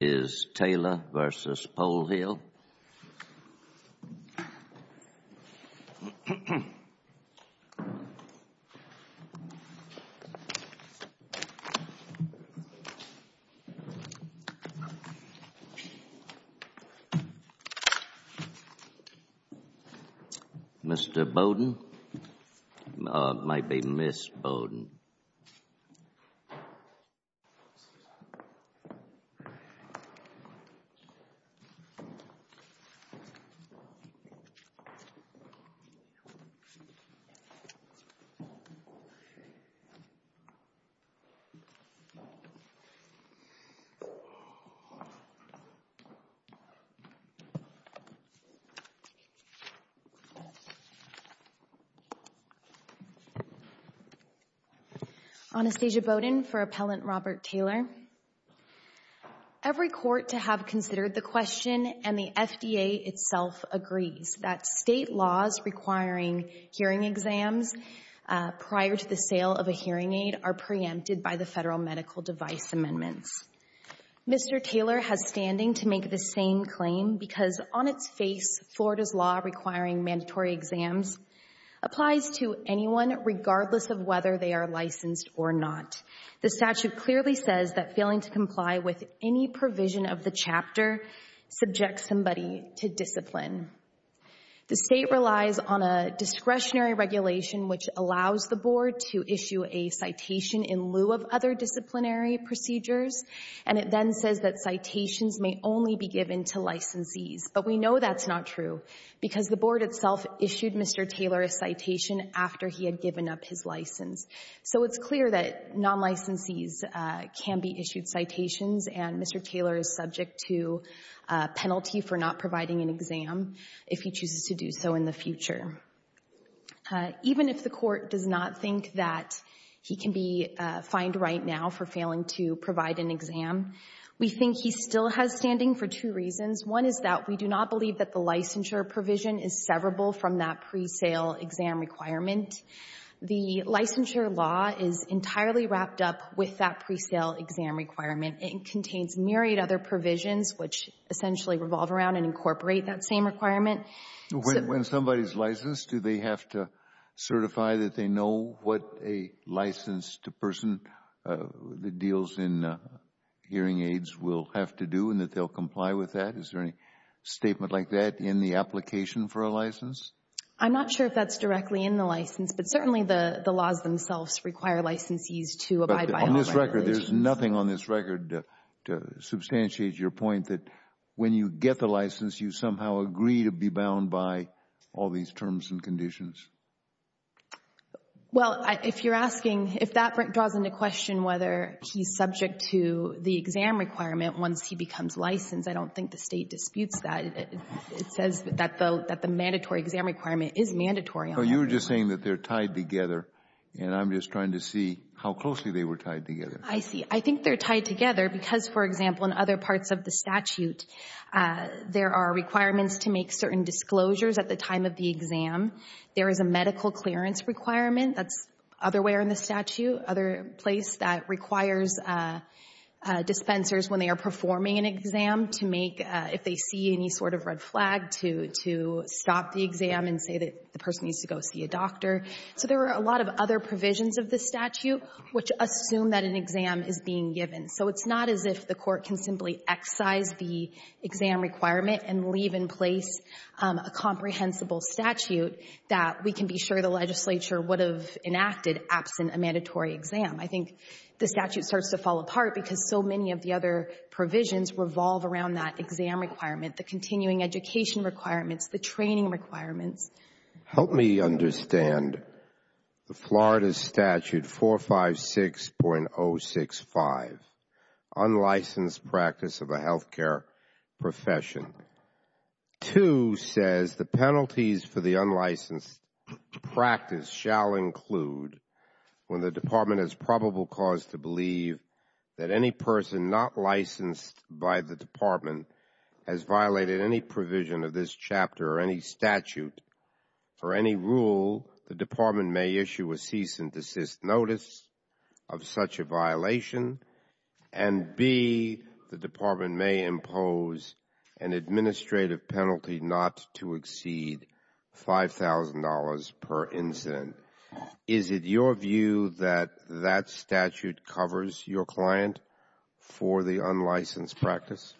is Taylor v. Polhill. Mr. On a stage of Bowdoin for appellant Robert Taylor. Every court to have considered the question and the FDA itself agrees that state laws requiring hearing exams prior to the sale of a hearing aid are preempted by the federal medical device amendments. Mr. Taylor has standing to make the same claim because on its face Florida's law requiring mandatory exams applies to anyone regardless of whether they are licensed or not. The statute clearly says that failing to comply with any provision of the chapter subjects somebody to discipline. The state relies on a discretionary regulation which allows the board to issue a citation in lieu of other disciplinary procedures and it then says that citations may only be given to licensees but we know that's not true because the board itself issued Mr. Taylor a citation after he had given up his license. So it's clear that non-licensees can be issued citations and Mr. Taylor is subject to a penalty for not providing an exam if he chooses to do so in the future. Even if the court does not think that he can be fined right now for failing to provide an exam we think he still has standing for two reasons. One is that we do not believe that the licensure provision is severable from that pre-sale exam requirement. The licensure law is entirely wrapped up with that pre-sale exam requirement. It contains myriad other provisions which essentially revolve around and incorporate that same requirement. When somebody's licensed do they have to certify that they know what a licensed person that deals in hearing aids will have to do and that they'll comply with that? Is there any statement like that in the application for a license? I'm not sure if that's directly in the license but certainly the the laws themselves require licensees to abide by all regulations. But on this record there's nothing on this record to substantiate your point that when you get the license you somehow agree to be bound by all these terms and conditions. Well if you're asking if that draws into question whether he's subject to the exam requirement once he becomes licensed, I don't think the state disputes that. It says that the mandatory exam requirement is mandatory. So you're just saying that they're tied together and I'm just trying to see how closely they were tied together. I see. I think they're tied together because for example in other parts of the statute there are requirements to make certain disclosures at the time of the exam. There is a medical clearance requirement that's other where in the statute, other place that requires dispensers when they are performing an exam to make if they see any sort of red flag to to stop the exam and say that the person needs to go see a doctor. So there are a lot of other provisions of the statute which assume that an exam is being given. So it's not as if the court can simply excise the exam requirement and leave in place a comprehensible statute that we can be sure the I think the statute starts to fall apart because so many of the other provisions revolve around that exam requirement, the continuing education requirements, the training requirements. Help me understand the Florida statute 456.065, unlicensed practice of a health care profession. Two says the penalties for the unlicensed practice shall include when the department has probable cause to believe that any person not licensed by the department has violated any provision of this chapter or any statute or any rule, the department may issue a cease and desist notice of such a violation and B, the department may impose an administrative penalty not to exceed $5,000 per incident. Is it your view that that statute covers your client for the unlicensed practice?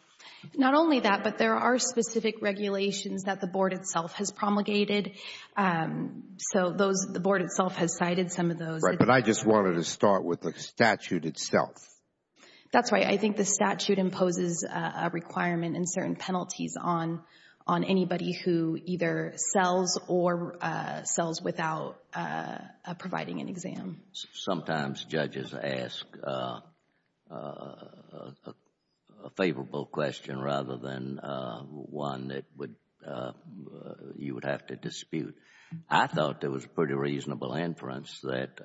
Not only that, but there are specific regulations that the Board itself has promulgated. So those, the Board itself has cited some of those. Right. But I just wanted to start with the statute itself. That's right. I think the statute imposes a requirement and certain penalties on anybody who either sells or sells without providing an exam. Sometimes judges ask a favorable question rather than one that you would have to dispute. I thought there was pretty reasonable inference that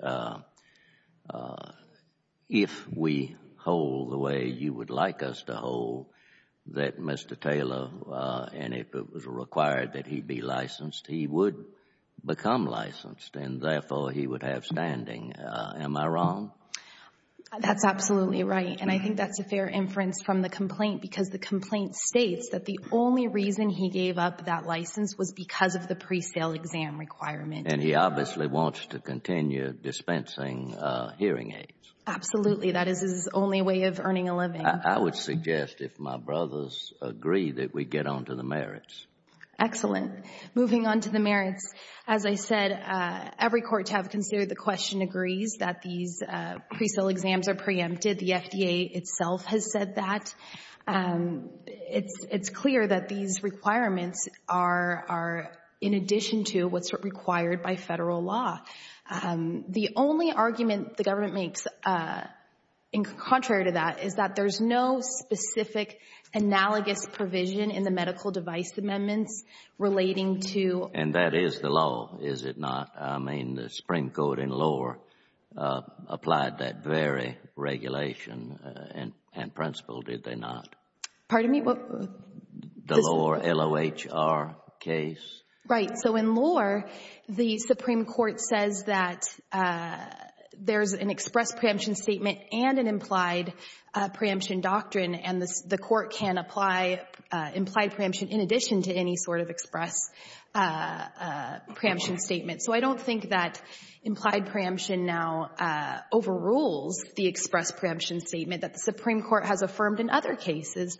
if we hold the way you would like us to hold, that Mr. Taylor, and if it was required that he be licensed, he would become licensed and therefore he would have standing. Am I wrong? That's absolutely right. And I think that's a fair inference from the complaint because the complaint states that the only reason he gave up that license was because of the pre-sale exam requirement. And he obviously wants to continue dispensing hearing aids. Absolutely. That is his only way of earning a living. I would suggest if my brothers agree that we get on to the merits. Excellent. Moving on to the merits, as I said, every court to have considered the question agrees that these pre-sale exams are preempted. The FDA itself has said that. It's clear that these requirements are in addition to what's required by Federal law. The only argument the government makes contrary to that is that there's no specific analogous provision in the medical device amendments relating to And that is the law, is it not? I mean, the Supreme Court in Lohr applied that very regulation and principle, did they not? Pardon me? The Lohr, L-O-H-R case. Right. So in Lohr, the Supreme Court says that there's an express preemption statement and an implied preemption doctrine, and the court can apply implied preemption in addition to any sort of express preemption statement. So I don't think that implied preemption now overrules the express preemption statement that the Supreme Court has affirmed in other cases.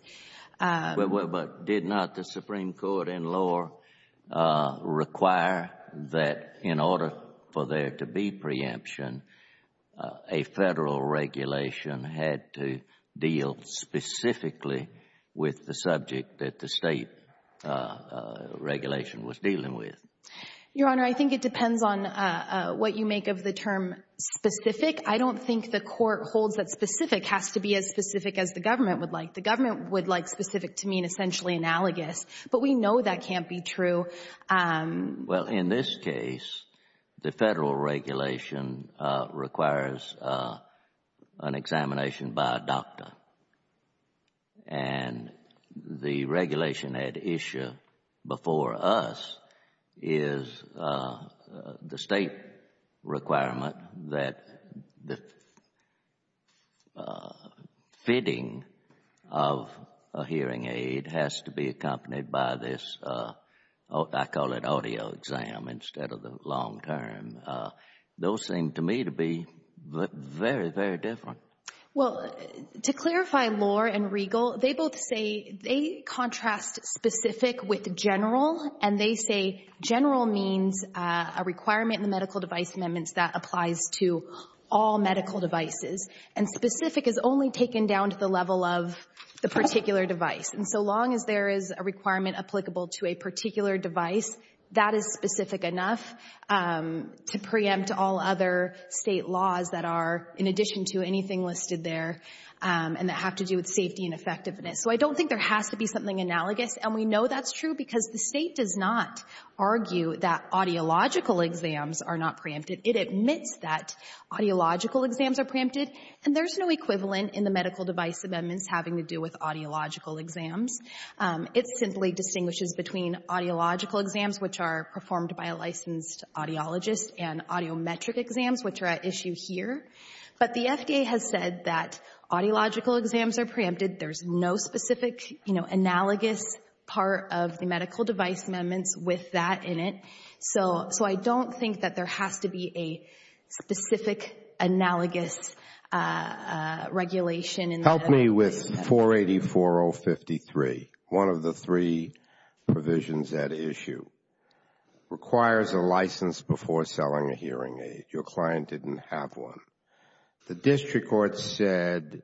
But did not the Supreme Court in Lohr require that in order for there to be preemption, a Federal regulation had to deal specifically with the subject that the State regulation was dealing with? Your Honor, I think it depends on what you make of the term specific. I don't think the court holds that specific has to be as specific as the government would like. The government would like specific to mean essentially analogous, but we know that can't be true. Well, in this case, the Federal regulation requires an examination by a doctor, and the of a hearing aid has to be accompanied by this, I call it, audio exam instead of the long term. Those seem to me to be very, very different. Well, to clarify Lohr and Riegel, they both say they contrast specific with general. And they say general means a requirement in the medical device amendments that applies to all medical devices. And specific is only taken down to the level of the particular device. And so long as there is a requirement applicable to a particular device, that is specific enough to preempt all other State laws that are in addition to anything listed there and that have to do with safety and effectiveness. So I don't think there has to be something analogous. And we know that's true because the State does not argue that audiological exams are not preempted. It admits that audiological exams are preempted, and there's no equivalent in the medical device amendments having to do with audiological exams. It simply distinguishes between audiological exams, which are performed by a licensed audiologist, and audiometric exams, which are at issue here. But the FDA has said that audiological exams are preempted. There's no specific, you know, analogous part of the medical device amendments with that in it. So I don't think that there has to be a specific analogous regulation in the medical device amendments. Help me with 484053, one of the three provisions at issue. Requires a license before selling a hearing aid. Your client didn't have one. The district court said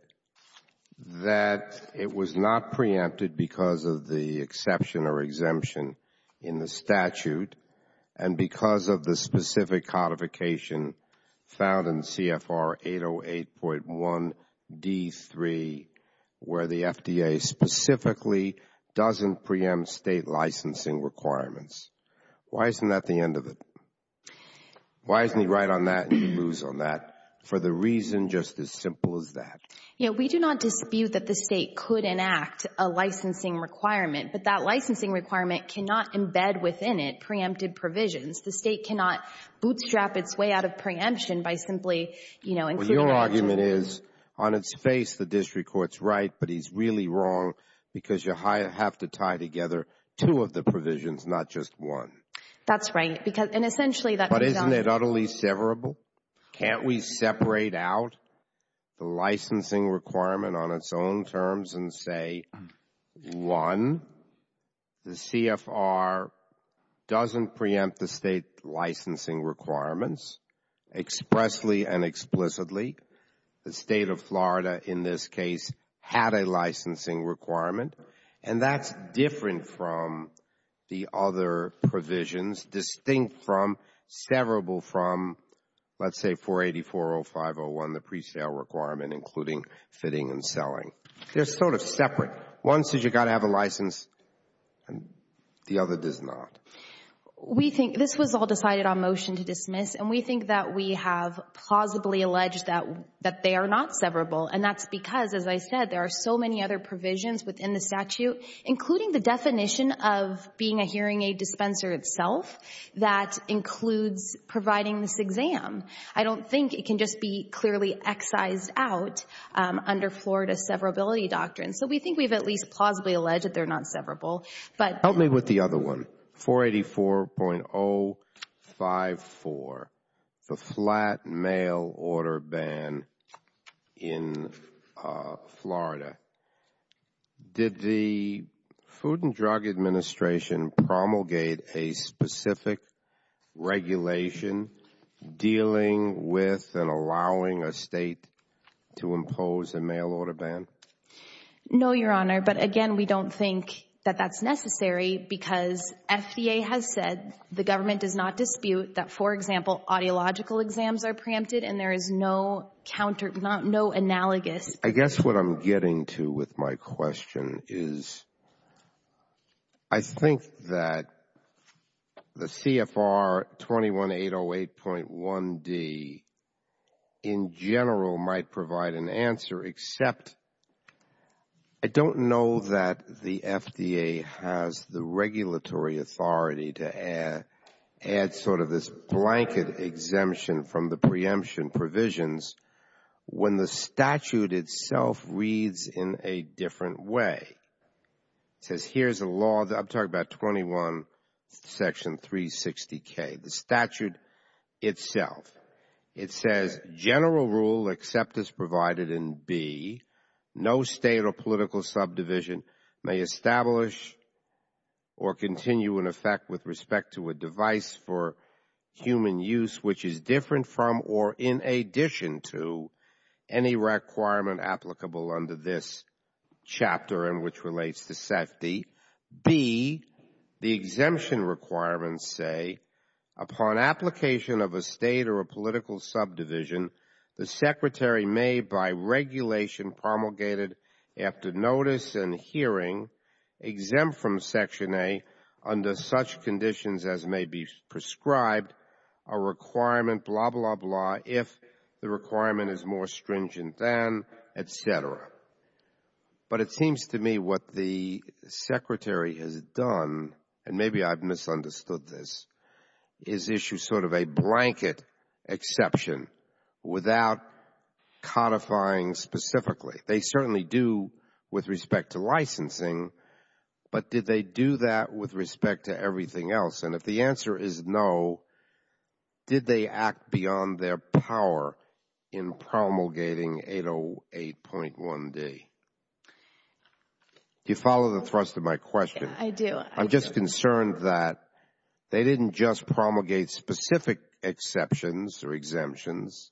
that it was not preempted because of the exception or exemption in the statute and because of the specific codification found in CFR 808.1d3, where the FDA specifically doesn't preempt State licensing requirements. Why isn't that the end of it? Why isn't he right on that and he's loose on that? For the reason just as simple as that. You know, we do not dispute that the State could enact a licensing requirement, but that licensing requirement cannot embed within it preempted provisions. The State cannot bootstrap its way out of preemption by simply, you know, including Well, your argument is on its face, the district court's right, but he's really wrong because you have to tie together two of the provisions, not just one. That's right. Because and essentially that But isn't it utterly severable? Can't we separate out the licensing requirement on its own terms and say, one, the CFR doesn't preempt the State licensing requirements expressly and explicitly. The State of Florida, in this case, had a licensing requirement. And that's different from the other provisions, distinct from, severable from, let's say, 484.0501, the presale requirement, including fitting and selling. They're sort of separate. One says you've got to have a license and the other does not. We think this was all decided on motion to dismiss, and we think that we have plausibly alleged that that they are not severable. And that's because, as I said, there are so many other provisions within the statute, including the definition of being a hearing aid dispenser itself that includes providing this exam. I don't think it can just be clearly excised out under Florida's severability doctrine. So we think we've at least plausibly alleged that they're not severable. But Help me with the other one. 484.054, the flat mail order ban in Florida. Did the Food and Drug Administration promulgate a specific regulation dealing with and allowing a state to impose a mail order ban? No, Your Honor. But again, we don't think that that's necessary because FDA has said the government does not dispute that, for example, audiological exams are preempted and there is no counter, no analogous. I guess what I'm getting to with my question is I think that the CFR 21808.1D in general might provide an answer, except I don't know that the FDA has the regulatory authority to add sort of this blanket exemption from the preemption provisions when the statute itself reads in a different way. It says here's a law, I'm talking about 21 section 360K, the statute itself. It says general rule except as provided in B, no state or political subdivision may establish or continue in effect with respect to a device for human use, which is different from or in addition to any requirement applicable under this chapter in which relates to safety. B, the exemption requirements say upon application of a state or a political subdivision, the secretary may by regulation promulgated after notice and hearing exempt from Section A under such conditions as may be prescribed a requirement, blah, blah, blah, if the requirement is more stringent than et cetera. But it seems to me what the secretary has done, and maybe I've misunderstood this, is issue sort of a blanket exception without codifying specifically. They certainly do with respect to licensing, but did they do that with respect to everything else? And if the answer is no, did they act beyond their power in promulgating 808.1D? Do you follow the thrust of my question? I do. I'm just concerned that they didn't just promulgate specific exceptions or exemptions.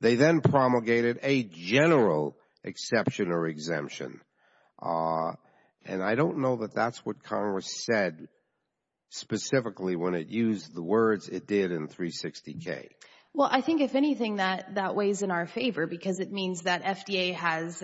They then promulgated a general exception or exemption. And I don't know that that's what Congress said specifically when it used the words it did in 360K. Well, I think if anything, that that weighs in our favor because it means that FDA has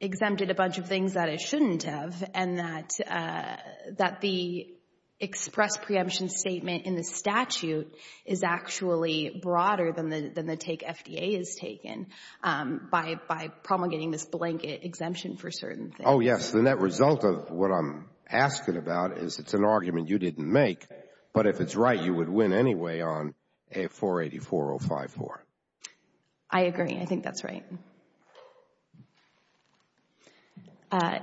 exempted a bunch of things that it shouldn't have and that the express preemption statement in the statute is actually broader than the take FDA has taken by promulgating this blanket exemption for certain things. Oh, yes. The net result of what I'm asking about is it's an argument you didn't make, but if it's right, you would win anyway on 484.054. I agree. I think that's right. I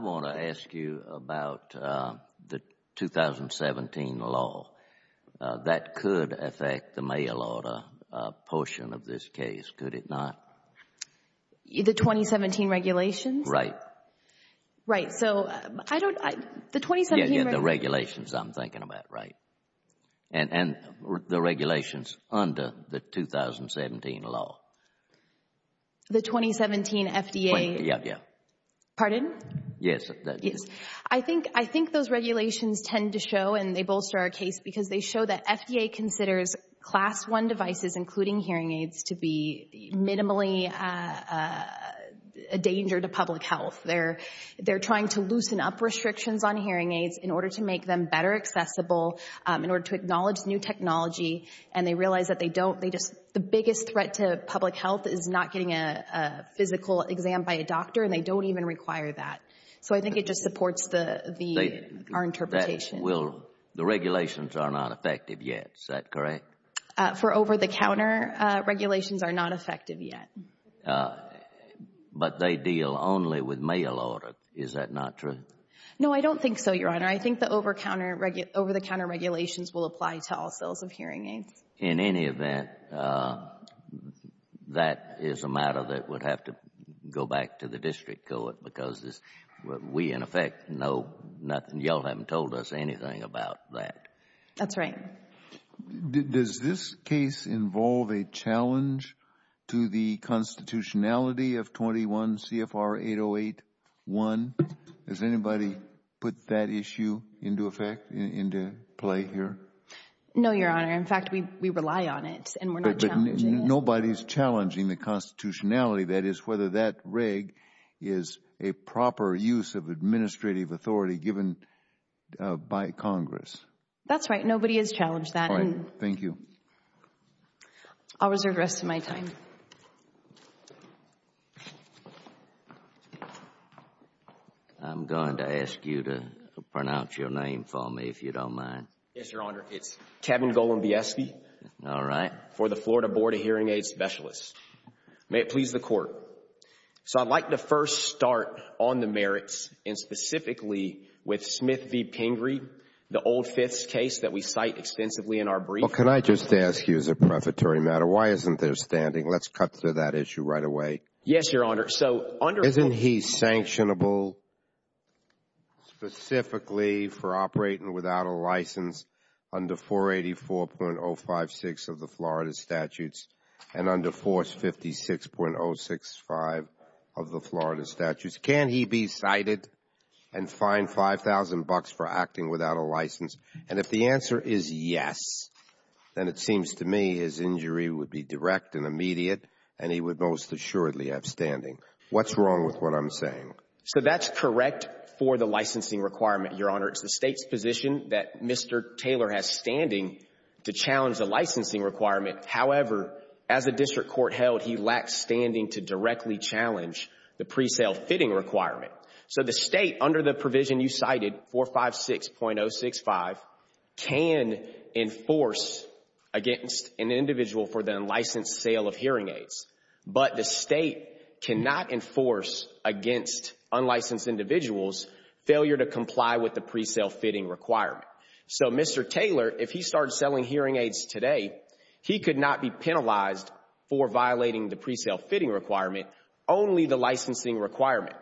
want to ask you about the 2017 law. That could affect the mail order portion of this case, could it not? The 2017 regulations? Right. Right. So, I don't, the 2017 regulations. The regulations I'm thinking about, right. And the regulations under the 2017 law. The 2017 FDA. Yeah, yeah. Pardon? Yes. I think those regulations tend to show, and they bolster our case, because they show that FDA considers Class I devices, including hearing aids, to be minimally a danger to public health. They're trying to loosen up restrictions on hearing aids in order to make them better accessible, in order to acknowledge new technology. And they realize that they don't. They just, the biggest threat to public health is not getting a physical exam by a doctor, and they don't even require that. So, I think it just supports the, our interpretation. That will, the regulations are not effective yet, is that correct? For over-the-counter regulations are not effective yet. But they deal only with mail order. Is that not true? No, I don't think so, Your Honor. I think the over-the-counter regulations will apply to all sales of hearing aids. In any event, that is a matter that would have to go back to the district court, because we, in effect, know nothing. Y'all haven't told us anything about that. That's right. Does this case involve a challenge to the constitutionality of 21 CFR 808-1? Has anybody put that issue into effect, into play here? No, Your Honor. In fact, we rely on it, and we're not challenging it. But nobody's challenging the constitutionality, that is, whether that reg is a proper use of administrative authority given by Congress. That's right. Nobody has challenged that. All right. Thank you. I'll reserve the rest of my time. I'm going to ask you to pronounce your name for me, if you don't mind. Yes, Your Honor. It's Kevin Golombieski. All right. For the Florida Board of Hearing Aid Specialists. May it please the Court. So I'd like to first start on the merits, and specifically with Smith v. Pingree, the old fifths case that we cite extensively in our brief. Well, can I just ask you, as a prefatory matter, why isn't there standing? Let's cut to that issue right away. Yes, Your Honor. So under- Under 484.056 of the Florida statutes, and under force 56.065 of the Florida statutes, can he be cited and fined $5,000 for acting without a license? And if the answer is yes, then it seems to me his injury would be direct and immediate, and he would most assuredly have standing. What's wrong with what I'm saying? So that's correct for the licensing requirement, Your Honor. It's the state's position that Mr. Taylor has standing to challenge the licensing requirement. However, as a district court held, he lacks standing to directly challenge the pre-sale fitting requirement. So the state, under the provision you cited, 456.065, can enforce against an individual for the unlicensed sale of hearing aids. But the state cannot enforce against unlicensed individuals failure to comply with the pre-sale fitting requirement. So Mr. Taylor, if he started selling hearing aids today, he could not be penalized for violating the pre-sale fitting requirement, only the licensing requirement.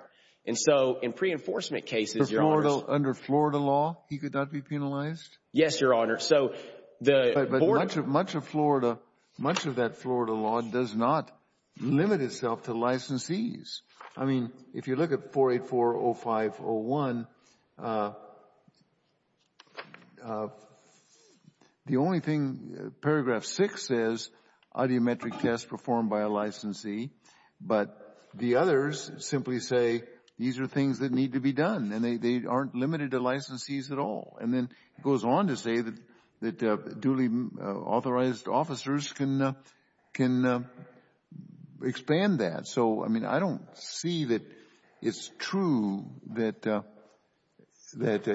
And so in pre-enforcement cases, Your Honor- Under Florida law, he could not be penalized? Yes, Your Honor. But much of Florida, much of that Florida law does not limit itself to licensees. I mean, if you look at 4840501, the only thing, paragraph 6 says, audiometric test performed by a licensee, but the others simply say, these are things that need to be done, and they aren't limited to licensees at all. And then it goes on to say that duly authorized officers can expand that. So, I mean, I don't see that it's true that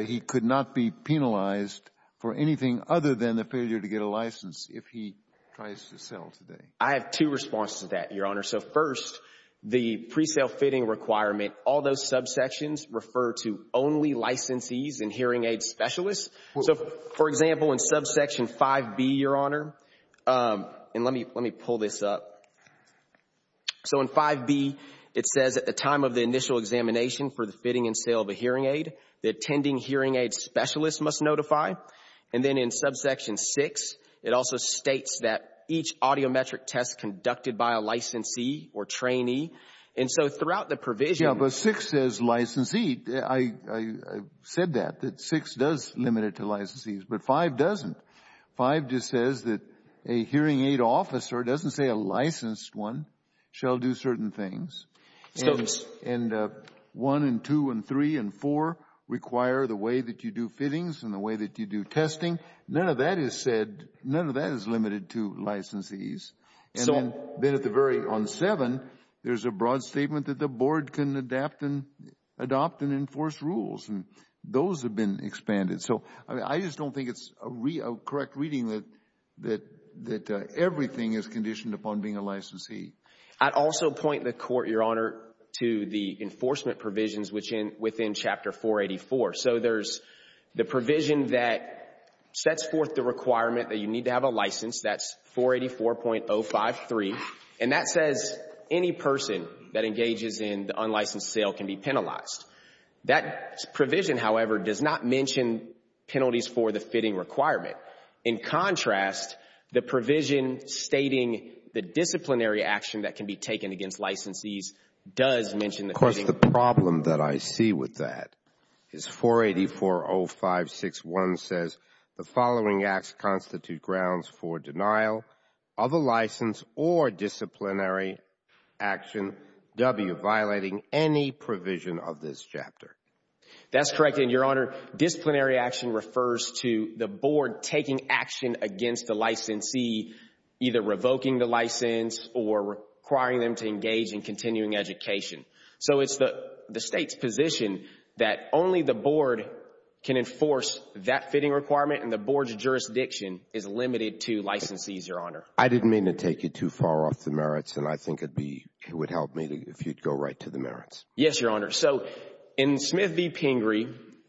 he could not be penalized for anything other than the failure to get a license if he tries to sell today. I have two responses to that, Your Honor. So first, the pre-sale fitting requirement, all those subsections refer to only licensees and hearing aid specialists. So, for example, in subsection 5B, Your Honor, and let me pull this up. So in 5B, it says at the time of the initial examination for the fitting and sale of a hearing aid, the attending hearing aid specialist must notify. And then in subsection 6, it also states that each audiometric test conducted by a licensee or trainee. And so throughout the provision. Yeah, but 6 says licensee. I said that, that 6 does limit it to licensees, but 5 doesn't. 5 just says that a hearing aid officer, it doesn't say a licensed one, shall do certain things. And 1 and 2 and 3 and 4 require the way that you do fittings and the way that you do testing. None of that is said, none of that is limited to licensees. And then at the very, on 7, there's a broad statement that the board can adapt and adopt and enforce rules. And those have been expanded. So I just don't think it's a correct reading that everything is conditioned upon being a licensee. I'd also point the Court, Your Honor, to the enforcement provisions within Chapter 484. So there's the provision that sets forth the requirement that you need to have a license. That's 484.053. And that says any person that engages in the unlicensed sale can be penalized. That provision, however, does not mention penalties for the fitting requirement. In contrast, the provision stating the disciplinary action that can be taken against licensees does mention the fitting. Of course, the problem that I see with that is 484.056.1 says the following acts constitute grounds for denial of a license or disciplinary action, W, violating any provision of this chapter. That's correct. And, Your Honor, disciplinary action refers to the board taking action against the licensee, either revoking the license or requiring them to engage in continuing education. So it's the State's position that only the board can enforce that fitting requirement and the board's jurisdiction is limited to licensees, Your Honor. I didn't mean to take you too far off the merits, and I think it would help me if you'd go right to the merits. Yes, Your Honor. So in Smith v. Pingree,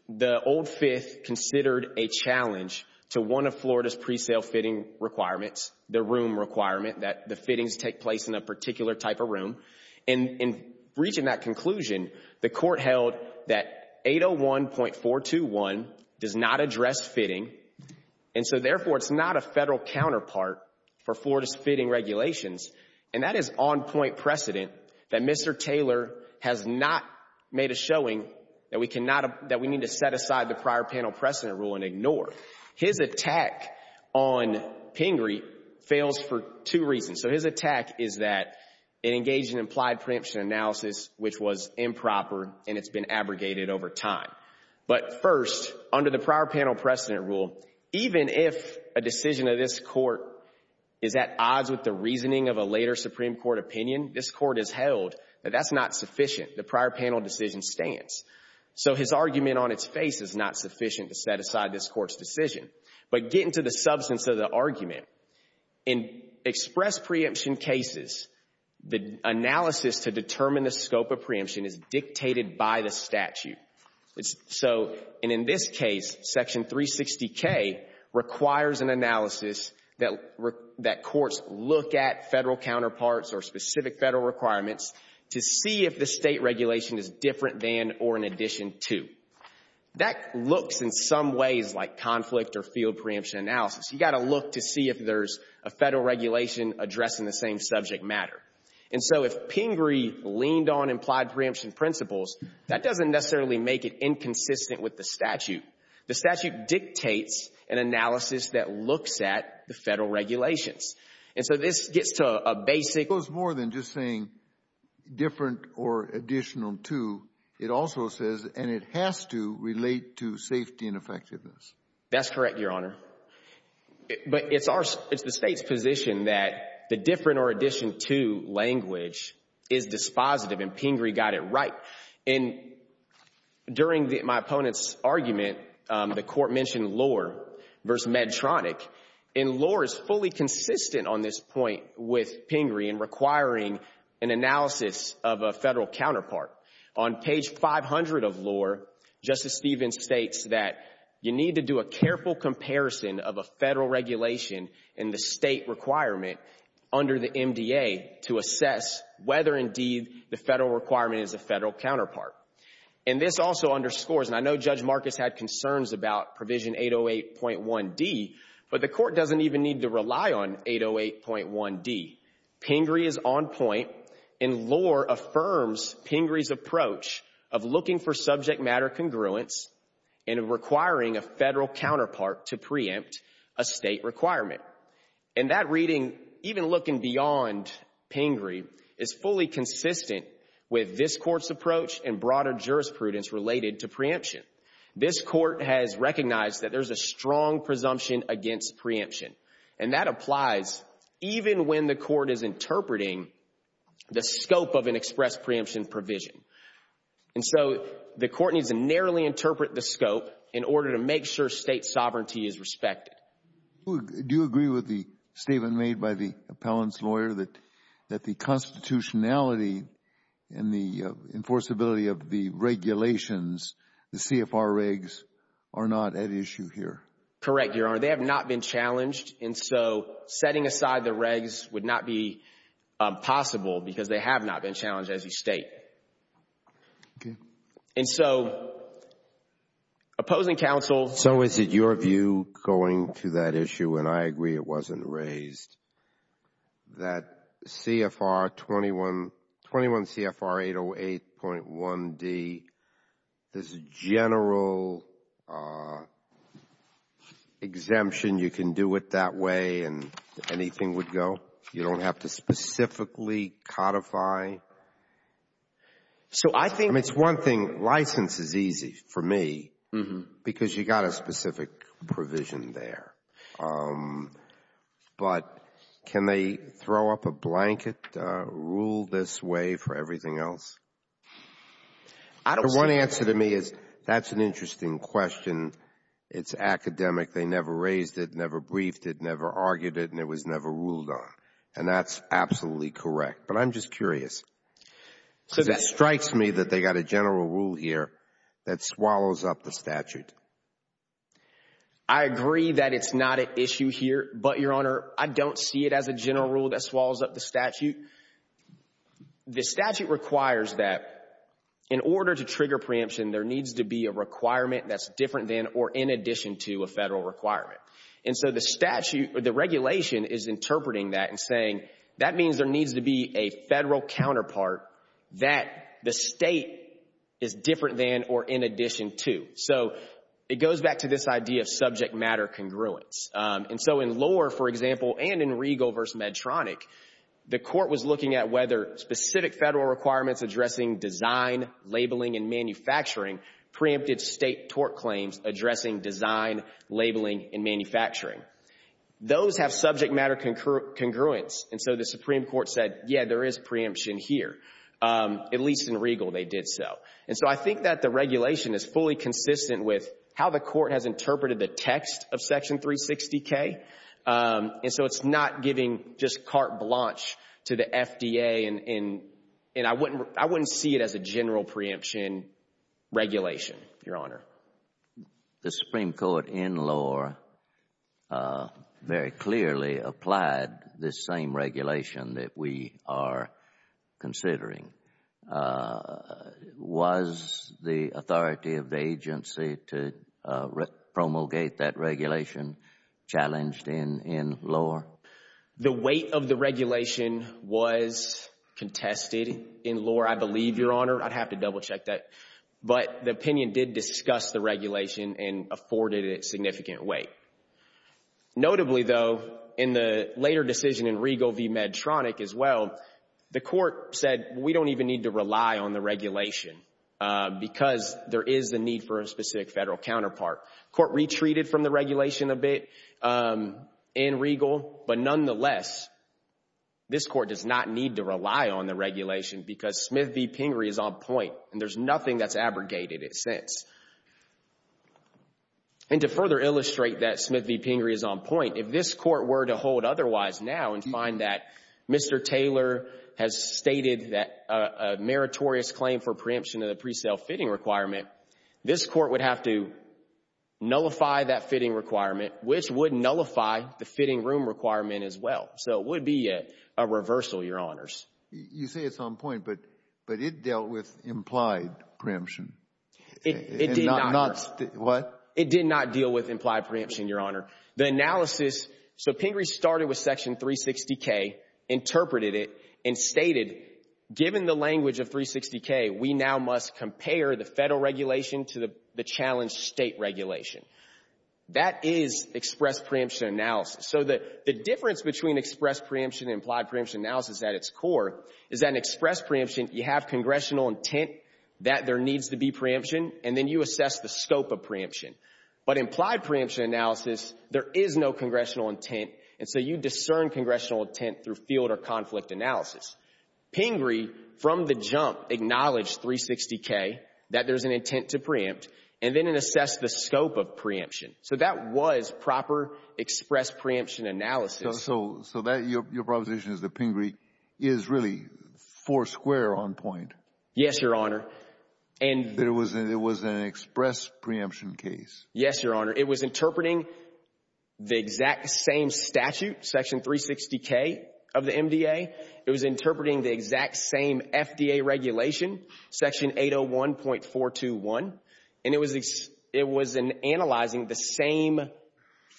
the old Fifth considered a challenge to one of Florida's pre-sale fitting requirements, the room requirement that the fittings take place in a particular type of room. And in reaching that conclusion, the Court held that 801.421 does not address fitting, and so therefore it's not a Federal counterpart for Florida's fitting regulations. And that is on-point precedent that Mr. Taylor has not made a showing that we need to set aside the prior panel precedent rule and ignore. His attack on Pingree fails for two reasons. So his attack is that it engaged in implied preemption analysis, which was improper, and it's been abrogated over time. But first, under the prior panel precedent rule, even if a decision of this Court is at odds with the reasoning of a later Supreme Court opinion, this Court has held that that's not sufficient. The prior panel decision stands. So his argument on its face is not sufficient to set aside this Court's decision. But getting to the substance of the argument, in express preemption cases, the analysis to determine the scope of preemption is dictated by the statute. So, and in this case, Section 360K requires an analysis that courts look at Federal counterparts or specific Federal requirements to see if the State regulation is different than or in addition to. That looks in some ways like conflict or field preemption analysis. You've got to look to see if there's a Federal regulation addressing the same subject matter. And so if Pingree leaned on implied preemption principles, that doesn't necessarily make it inconsistent with the statute. The statute dictates an analysis that looks at the Federal regulations. And so this gets to a basic — It goes more than just saying different or additional to. It also says, and it has to relate to safety and effectiveness. That's correct, Your Honor. But it's the State's position that the different or addition to language is dispositive, and Pingree got it right. And during my opponent's argument, the Court mentioned Lohr v. Medtronic. And Lohr is fully consistent on this point with Pingree in requiring an analysis of a Federal counterpart. On page 500 of Lohr, Justice Stevens states that you need to do a careful comparison of a Federal regulation and the State requirement under the MDA to assess whether, indeed, the Federal requirement is a Federal counterpart. And this also underscores — and I know Judge Marcus had concerns about provision 808.1d, but the Court doesn't even need to rely on 808.1d. Pingree is on point, and Lohr affirms Pingree's approach of looking for subject matter congruence and requiring a Federal counterpart to preempt a State requirement. And that reading, even looking beyond Pingree, is fully consistent with this Court's approach and broader jurisprudence related to preemption. This Court has recognized that there's a strong presumption against preemption. And that applies even when the Court is interpreting the scope of an express preemption provision. And so the Court needs to narrowly interpret the scope in order to make sure State sovereignty is respected. Do you agree with the statement made by the appellant's lawyer that the constitutionality and the enforceability of the regulations, the CFR regs, are not at issue here? Correct, Your Honor. They have not been challenged. And so setting aside the regs would not be possible because they have not been challenged as a State. And so opposing counsel — So is it your view going to that issue, and I agree it wasn't raised, that CFR 21 — 21 CFR 808.1d, there's a general exemption, you can do it that way and anything would go? You don't have to specifically codify? So I think — I mean, it's one thing. License is easy for me because you got a specific provision there. But can they throw up a blanket rule this way for everything else? I don't — The one answer to me is that's an interesting question. It's academic. They never raised it, never briefed it, never argued it, and it was never ruled on. And that's absolutely correct. But I'm just curious because it strikes me that they got a general rule here that swallows up the statute. I agree that it's not an issue here. But, Your Honor, I don't see it as a general rule that swallows up the statute. The statute requires that in order to trigger preemption, there needs to be a requirement that's different than or in addition to a federal requirement. And so the statute, the regulation is interpreting that and saying that means there needs to be a federal counterpart that the State is different than or in addition to. So it goes back to this idea of subject matter congruence. And so in Lohr, for example, and in Regal v. Medtronic, the Court was looking at whether specific federal requirements addressing design, labeling, and manufacturing preempted State tort claims addressing design, labeling, and manufacturing. Those have subject matter congruence. And so the Supreme Court said, yeah, there is preemption here. At least in Regal, they did so. And so I think that the regulation is fully consistent with how the Court has interpreted the text of Section 360K. And so it's not giving just carte blanche to the FDA. And I wouldn't see it as a general preemption regulation, Your Honor. The Supreme Court in Lohr very clearly applied this same regulation that we are considering. Was the authority of the agency to promulgate that regulation challenged in Lohr? The weight of the regulation was contested in Lohr, I believe, Your Honor. I'd have to double check that. But the opinion did discuss the regulation and afforded it significant weight. Notably, though, in the later decision in Regal v. Medtronic as well, the Court said, we don't even need to rely on the regulation because there is the need for a specific federal counterpart. Court retreated from the regulation a bit in Regal. But nonetheless, this Court does not need to rely on the regulation because Smith v. Pingree is on point. And there's nothing that's abrogated it since. And to further illustrate that Smith v. Pingree is on point, if this Court were to hold otherwise now and find that Mr. Taylor has stated that a meritorious claim for preemption of the pre-sale fitting requirement, this Court would have to nullify that fitting requirement, which would nullify the fitting room requirement as well. So it would be a reversal, Your Honors. You say it's on point, but it dealt with implied preemption. It did not. Not what? It did not deal with implied preemption, Your Honor. The analysis, so Pingree started with Section 360K, interpreted it, and stated, given the language of 360K, we now must compare the federal regulation to the challenged state regulation. That is express preemption analysis. So the difference between express preemption and implied preemption analysis at its core is that in express preemption, you have congressional intent that there needs to be preemption, and then you assess the scope of preemption. But implied preemption analysis, there is no congressional intent, and so you discern congressional intent through field or conflict analysis. Pingree, from the jump, acknowledged 360K, that there's an intent to preempt, and then it assessed the scope of preemption. So that was proper express preemption analysis. So that, your proposition is that Pingree is really four square on point. Yes, Your Honor. And it was an express preemption case. Yes, Your Honor. It was interpreting the exact same statute, Section 360K of the MDA. It was interpreting the exact same FDA regulation, Section 801.421, and it was analyzing the same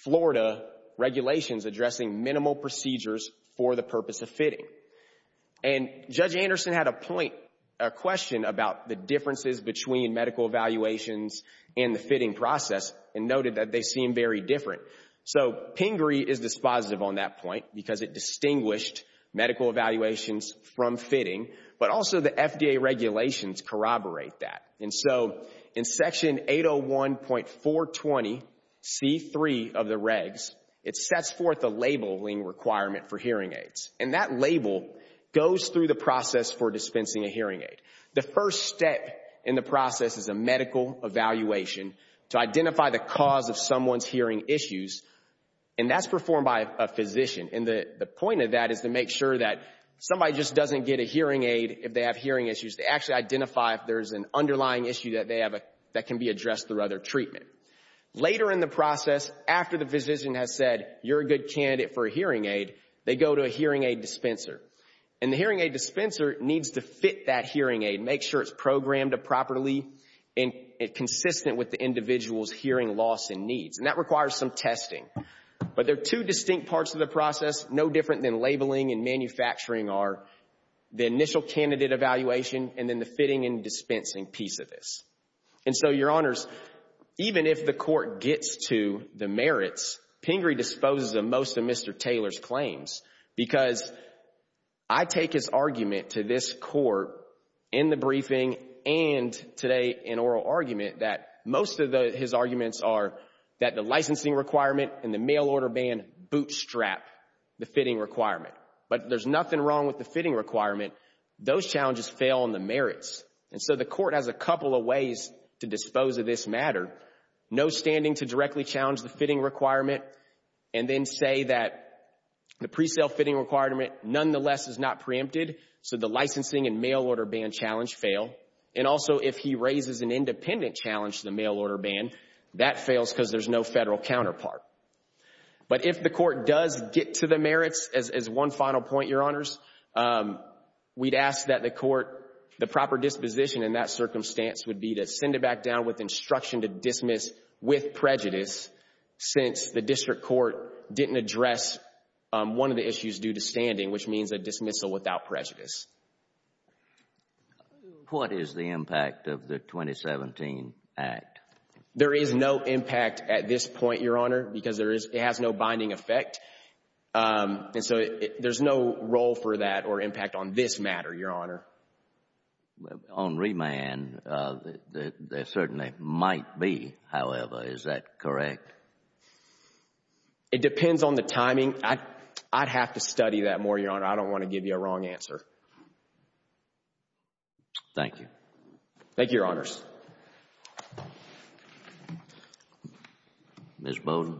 Florida regulations addressing minimal procedures for the purpose of fitting. And Judge Anderson had a point, a question about the differences between medical evaluations and the fitting process and noted that they seem very different. So Pingree is dispositive on that point because it distinguished medical evaluations from fitting, but also the FDA regulations corroborate that. And so in Section 801.420C3 of the regs, it sets forth a labeling requirement for hearing aids. And that label goes through the process for dispensing a hearing aid. The first step in the process is a medical evaluation to identify the cause of someone's hearing issues, and that's performed by a physician. And the point of that is to make sure that somebody just doesn't get a hearing aid if they have hearing issues. They actually identify if there's an underlying issue that they have that can be addressed through other treatment. Later in the process, after the physician has said, you're a good candidate for a hearing aid, they go to a hearing aid dispenser. And the hearing aid dispenser needs to fit that hearing aid, make sure it's programmed properly and consistent with the individual's hearing loss and needs. And that requires some testing. But there are two distinct parts of the process, no different than labeling and manufacturing, are the initial candidate evaluation and then the fitting and dispensing piece of this. And so, Your Honors, even if the court gets to the merits, Pingree disposes of most of Mr. Taylor's claims because I take his argument to this court in the briefing and today in oral argument that most of his arguments are that the licensing requirement and the mail order ban bootstrap the fitting requirement. But there's nothing wrong with the fitting requirement. Those challenges fail on the merits. And so the court has a couple of ways to dispose of this matter. No standing to directly challenge the fitting requirement and then say that the pre-sale fitting requirement nonetheless is not preempted, so the licensing and mail order ban challenge fail. And also, if he raises an independent challenge to the mail order ban, that fails because there's no federal counterpart. But if the court does get to the merits, as one final point, Your Honors, we'd ask that the court, the proper disposition in that circumstance would be to send it back down with instruction to dismiss with prejudice since the district court didn't address one of the issues due to standing, which means a dismissal without prejudice. What is the impact of the 2017 Act? There is no impact at this point, Your Honor, because it has no binding effect. And so there's no role for that or impact on this matter, Your Honor. Well, on remand, there certainly might be, however, is that correct? It depends on the timing. I'd have to study that more, Your Honor. I don't want to give you a wrong answer. Thank you. Thank you, Your Honors. Ms. Bowden.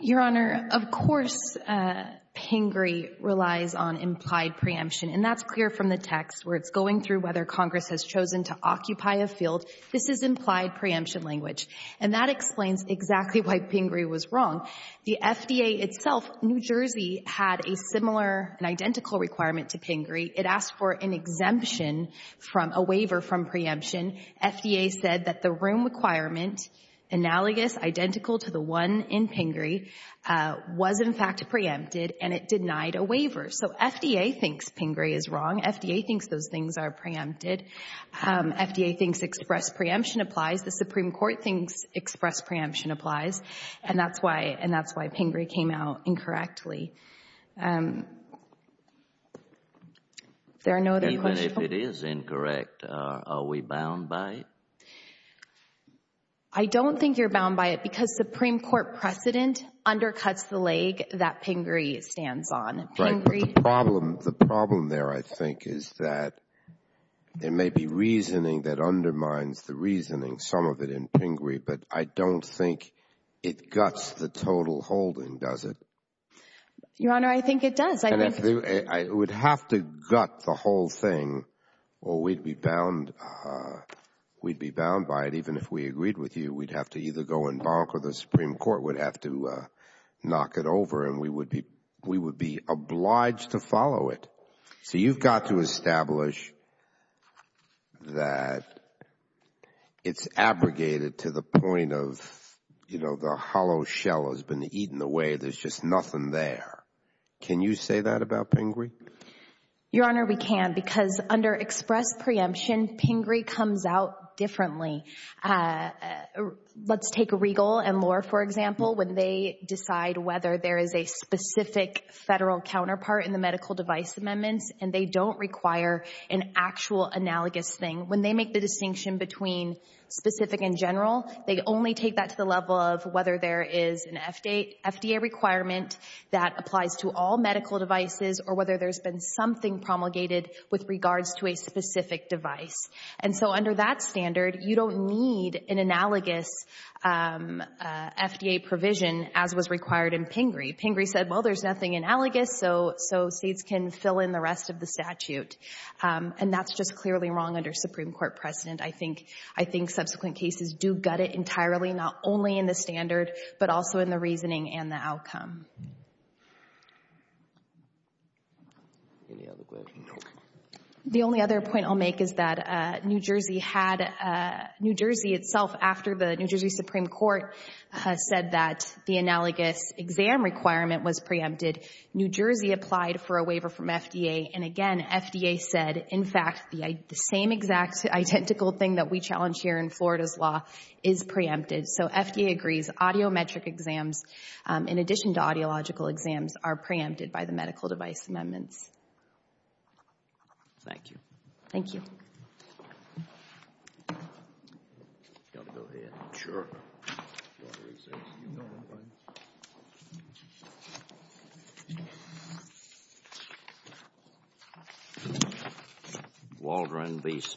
Your Honor, of course, Pingree relies on implied preemption. And that's clear from the text, where it's going through whether Congress has chosen to occupy a field. This is implied preemption language. And that explains exactly why Pingree was wrong. The FDA itself, New Jersey, had a similar, an identical requirement to Pingree. It asked for an exemption from a waiver from preemption. FDA said that the room requirement, analogous, identical to the one in Pingree, was in fact preempted, and it denied a waiver. So FDA thinks Pingree is wrong. FDA thinks those things are preempted. FDA thinks express preemption applies. The Supreme Court thinks express preemption applies. And that's why Pingree came out incorrectly. There are no other questions? Even if it is incorrect, are we bound by it? I don't think you're bound by it, because Supreme Court precedent undercuts the leg that Pingree stands on. The problem there, I think, is that there may be reasoning that undermines the reasoning, some of it in Pingree, but I don't think it guts the total holding, does it? Your Honor, I think it does. And I would have to gut the whole thing, or we'd be bound by it. Even if we agreed with you, we'd have to either go and bonk, or the Supreme Court would have to knock it over, and we would be obliged to follow it. So you've got to establish that it's abrogated to the point of, you know, the hollow shell has been eaten away. There's just nothing there. Can you say that about Pingree? Your Honor, we can, because under express preemption, Pingree comes out differently. Let's take Regal and Lohr, for example, when they decide whether there is a specific federal counterpart in the medical device amendments, and they don't require an actual analogous thing. When they make the distinction between specific and general, they only take that to the level of whether there is an FDA requirement that applies to all medical devices, or whether there's been something promulgated with regards to a specific device. And so under that standard, you don't need an analogous FDA provision as was required in Pingree. Pingree said, well, there's nothing analogous, so states can fill in the rest of the statute. And that's just clearly wrong under Supreme Court precedent. I think subsequent cases do gut it entirely, not only in the standard, but also in the reasoning and the outcome. Any other questions? The only other point I'll make is that New Jersey had, New Jersey itself, after the New Jersey Supreme Court said that the analogous exam requirement was preempted, New Jersey applied for a waiver from FDA. And again, FDA said, in fact, the same exact identical thing that we challenge here in Florida's law is preempted. So FDA agrees, audiometric exams, in addition to audiological exams, are preempted by the medical device amendments. Thank you. Thank you.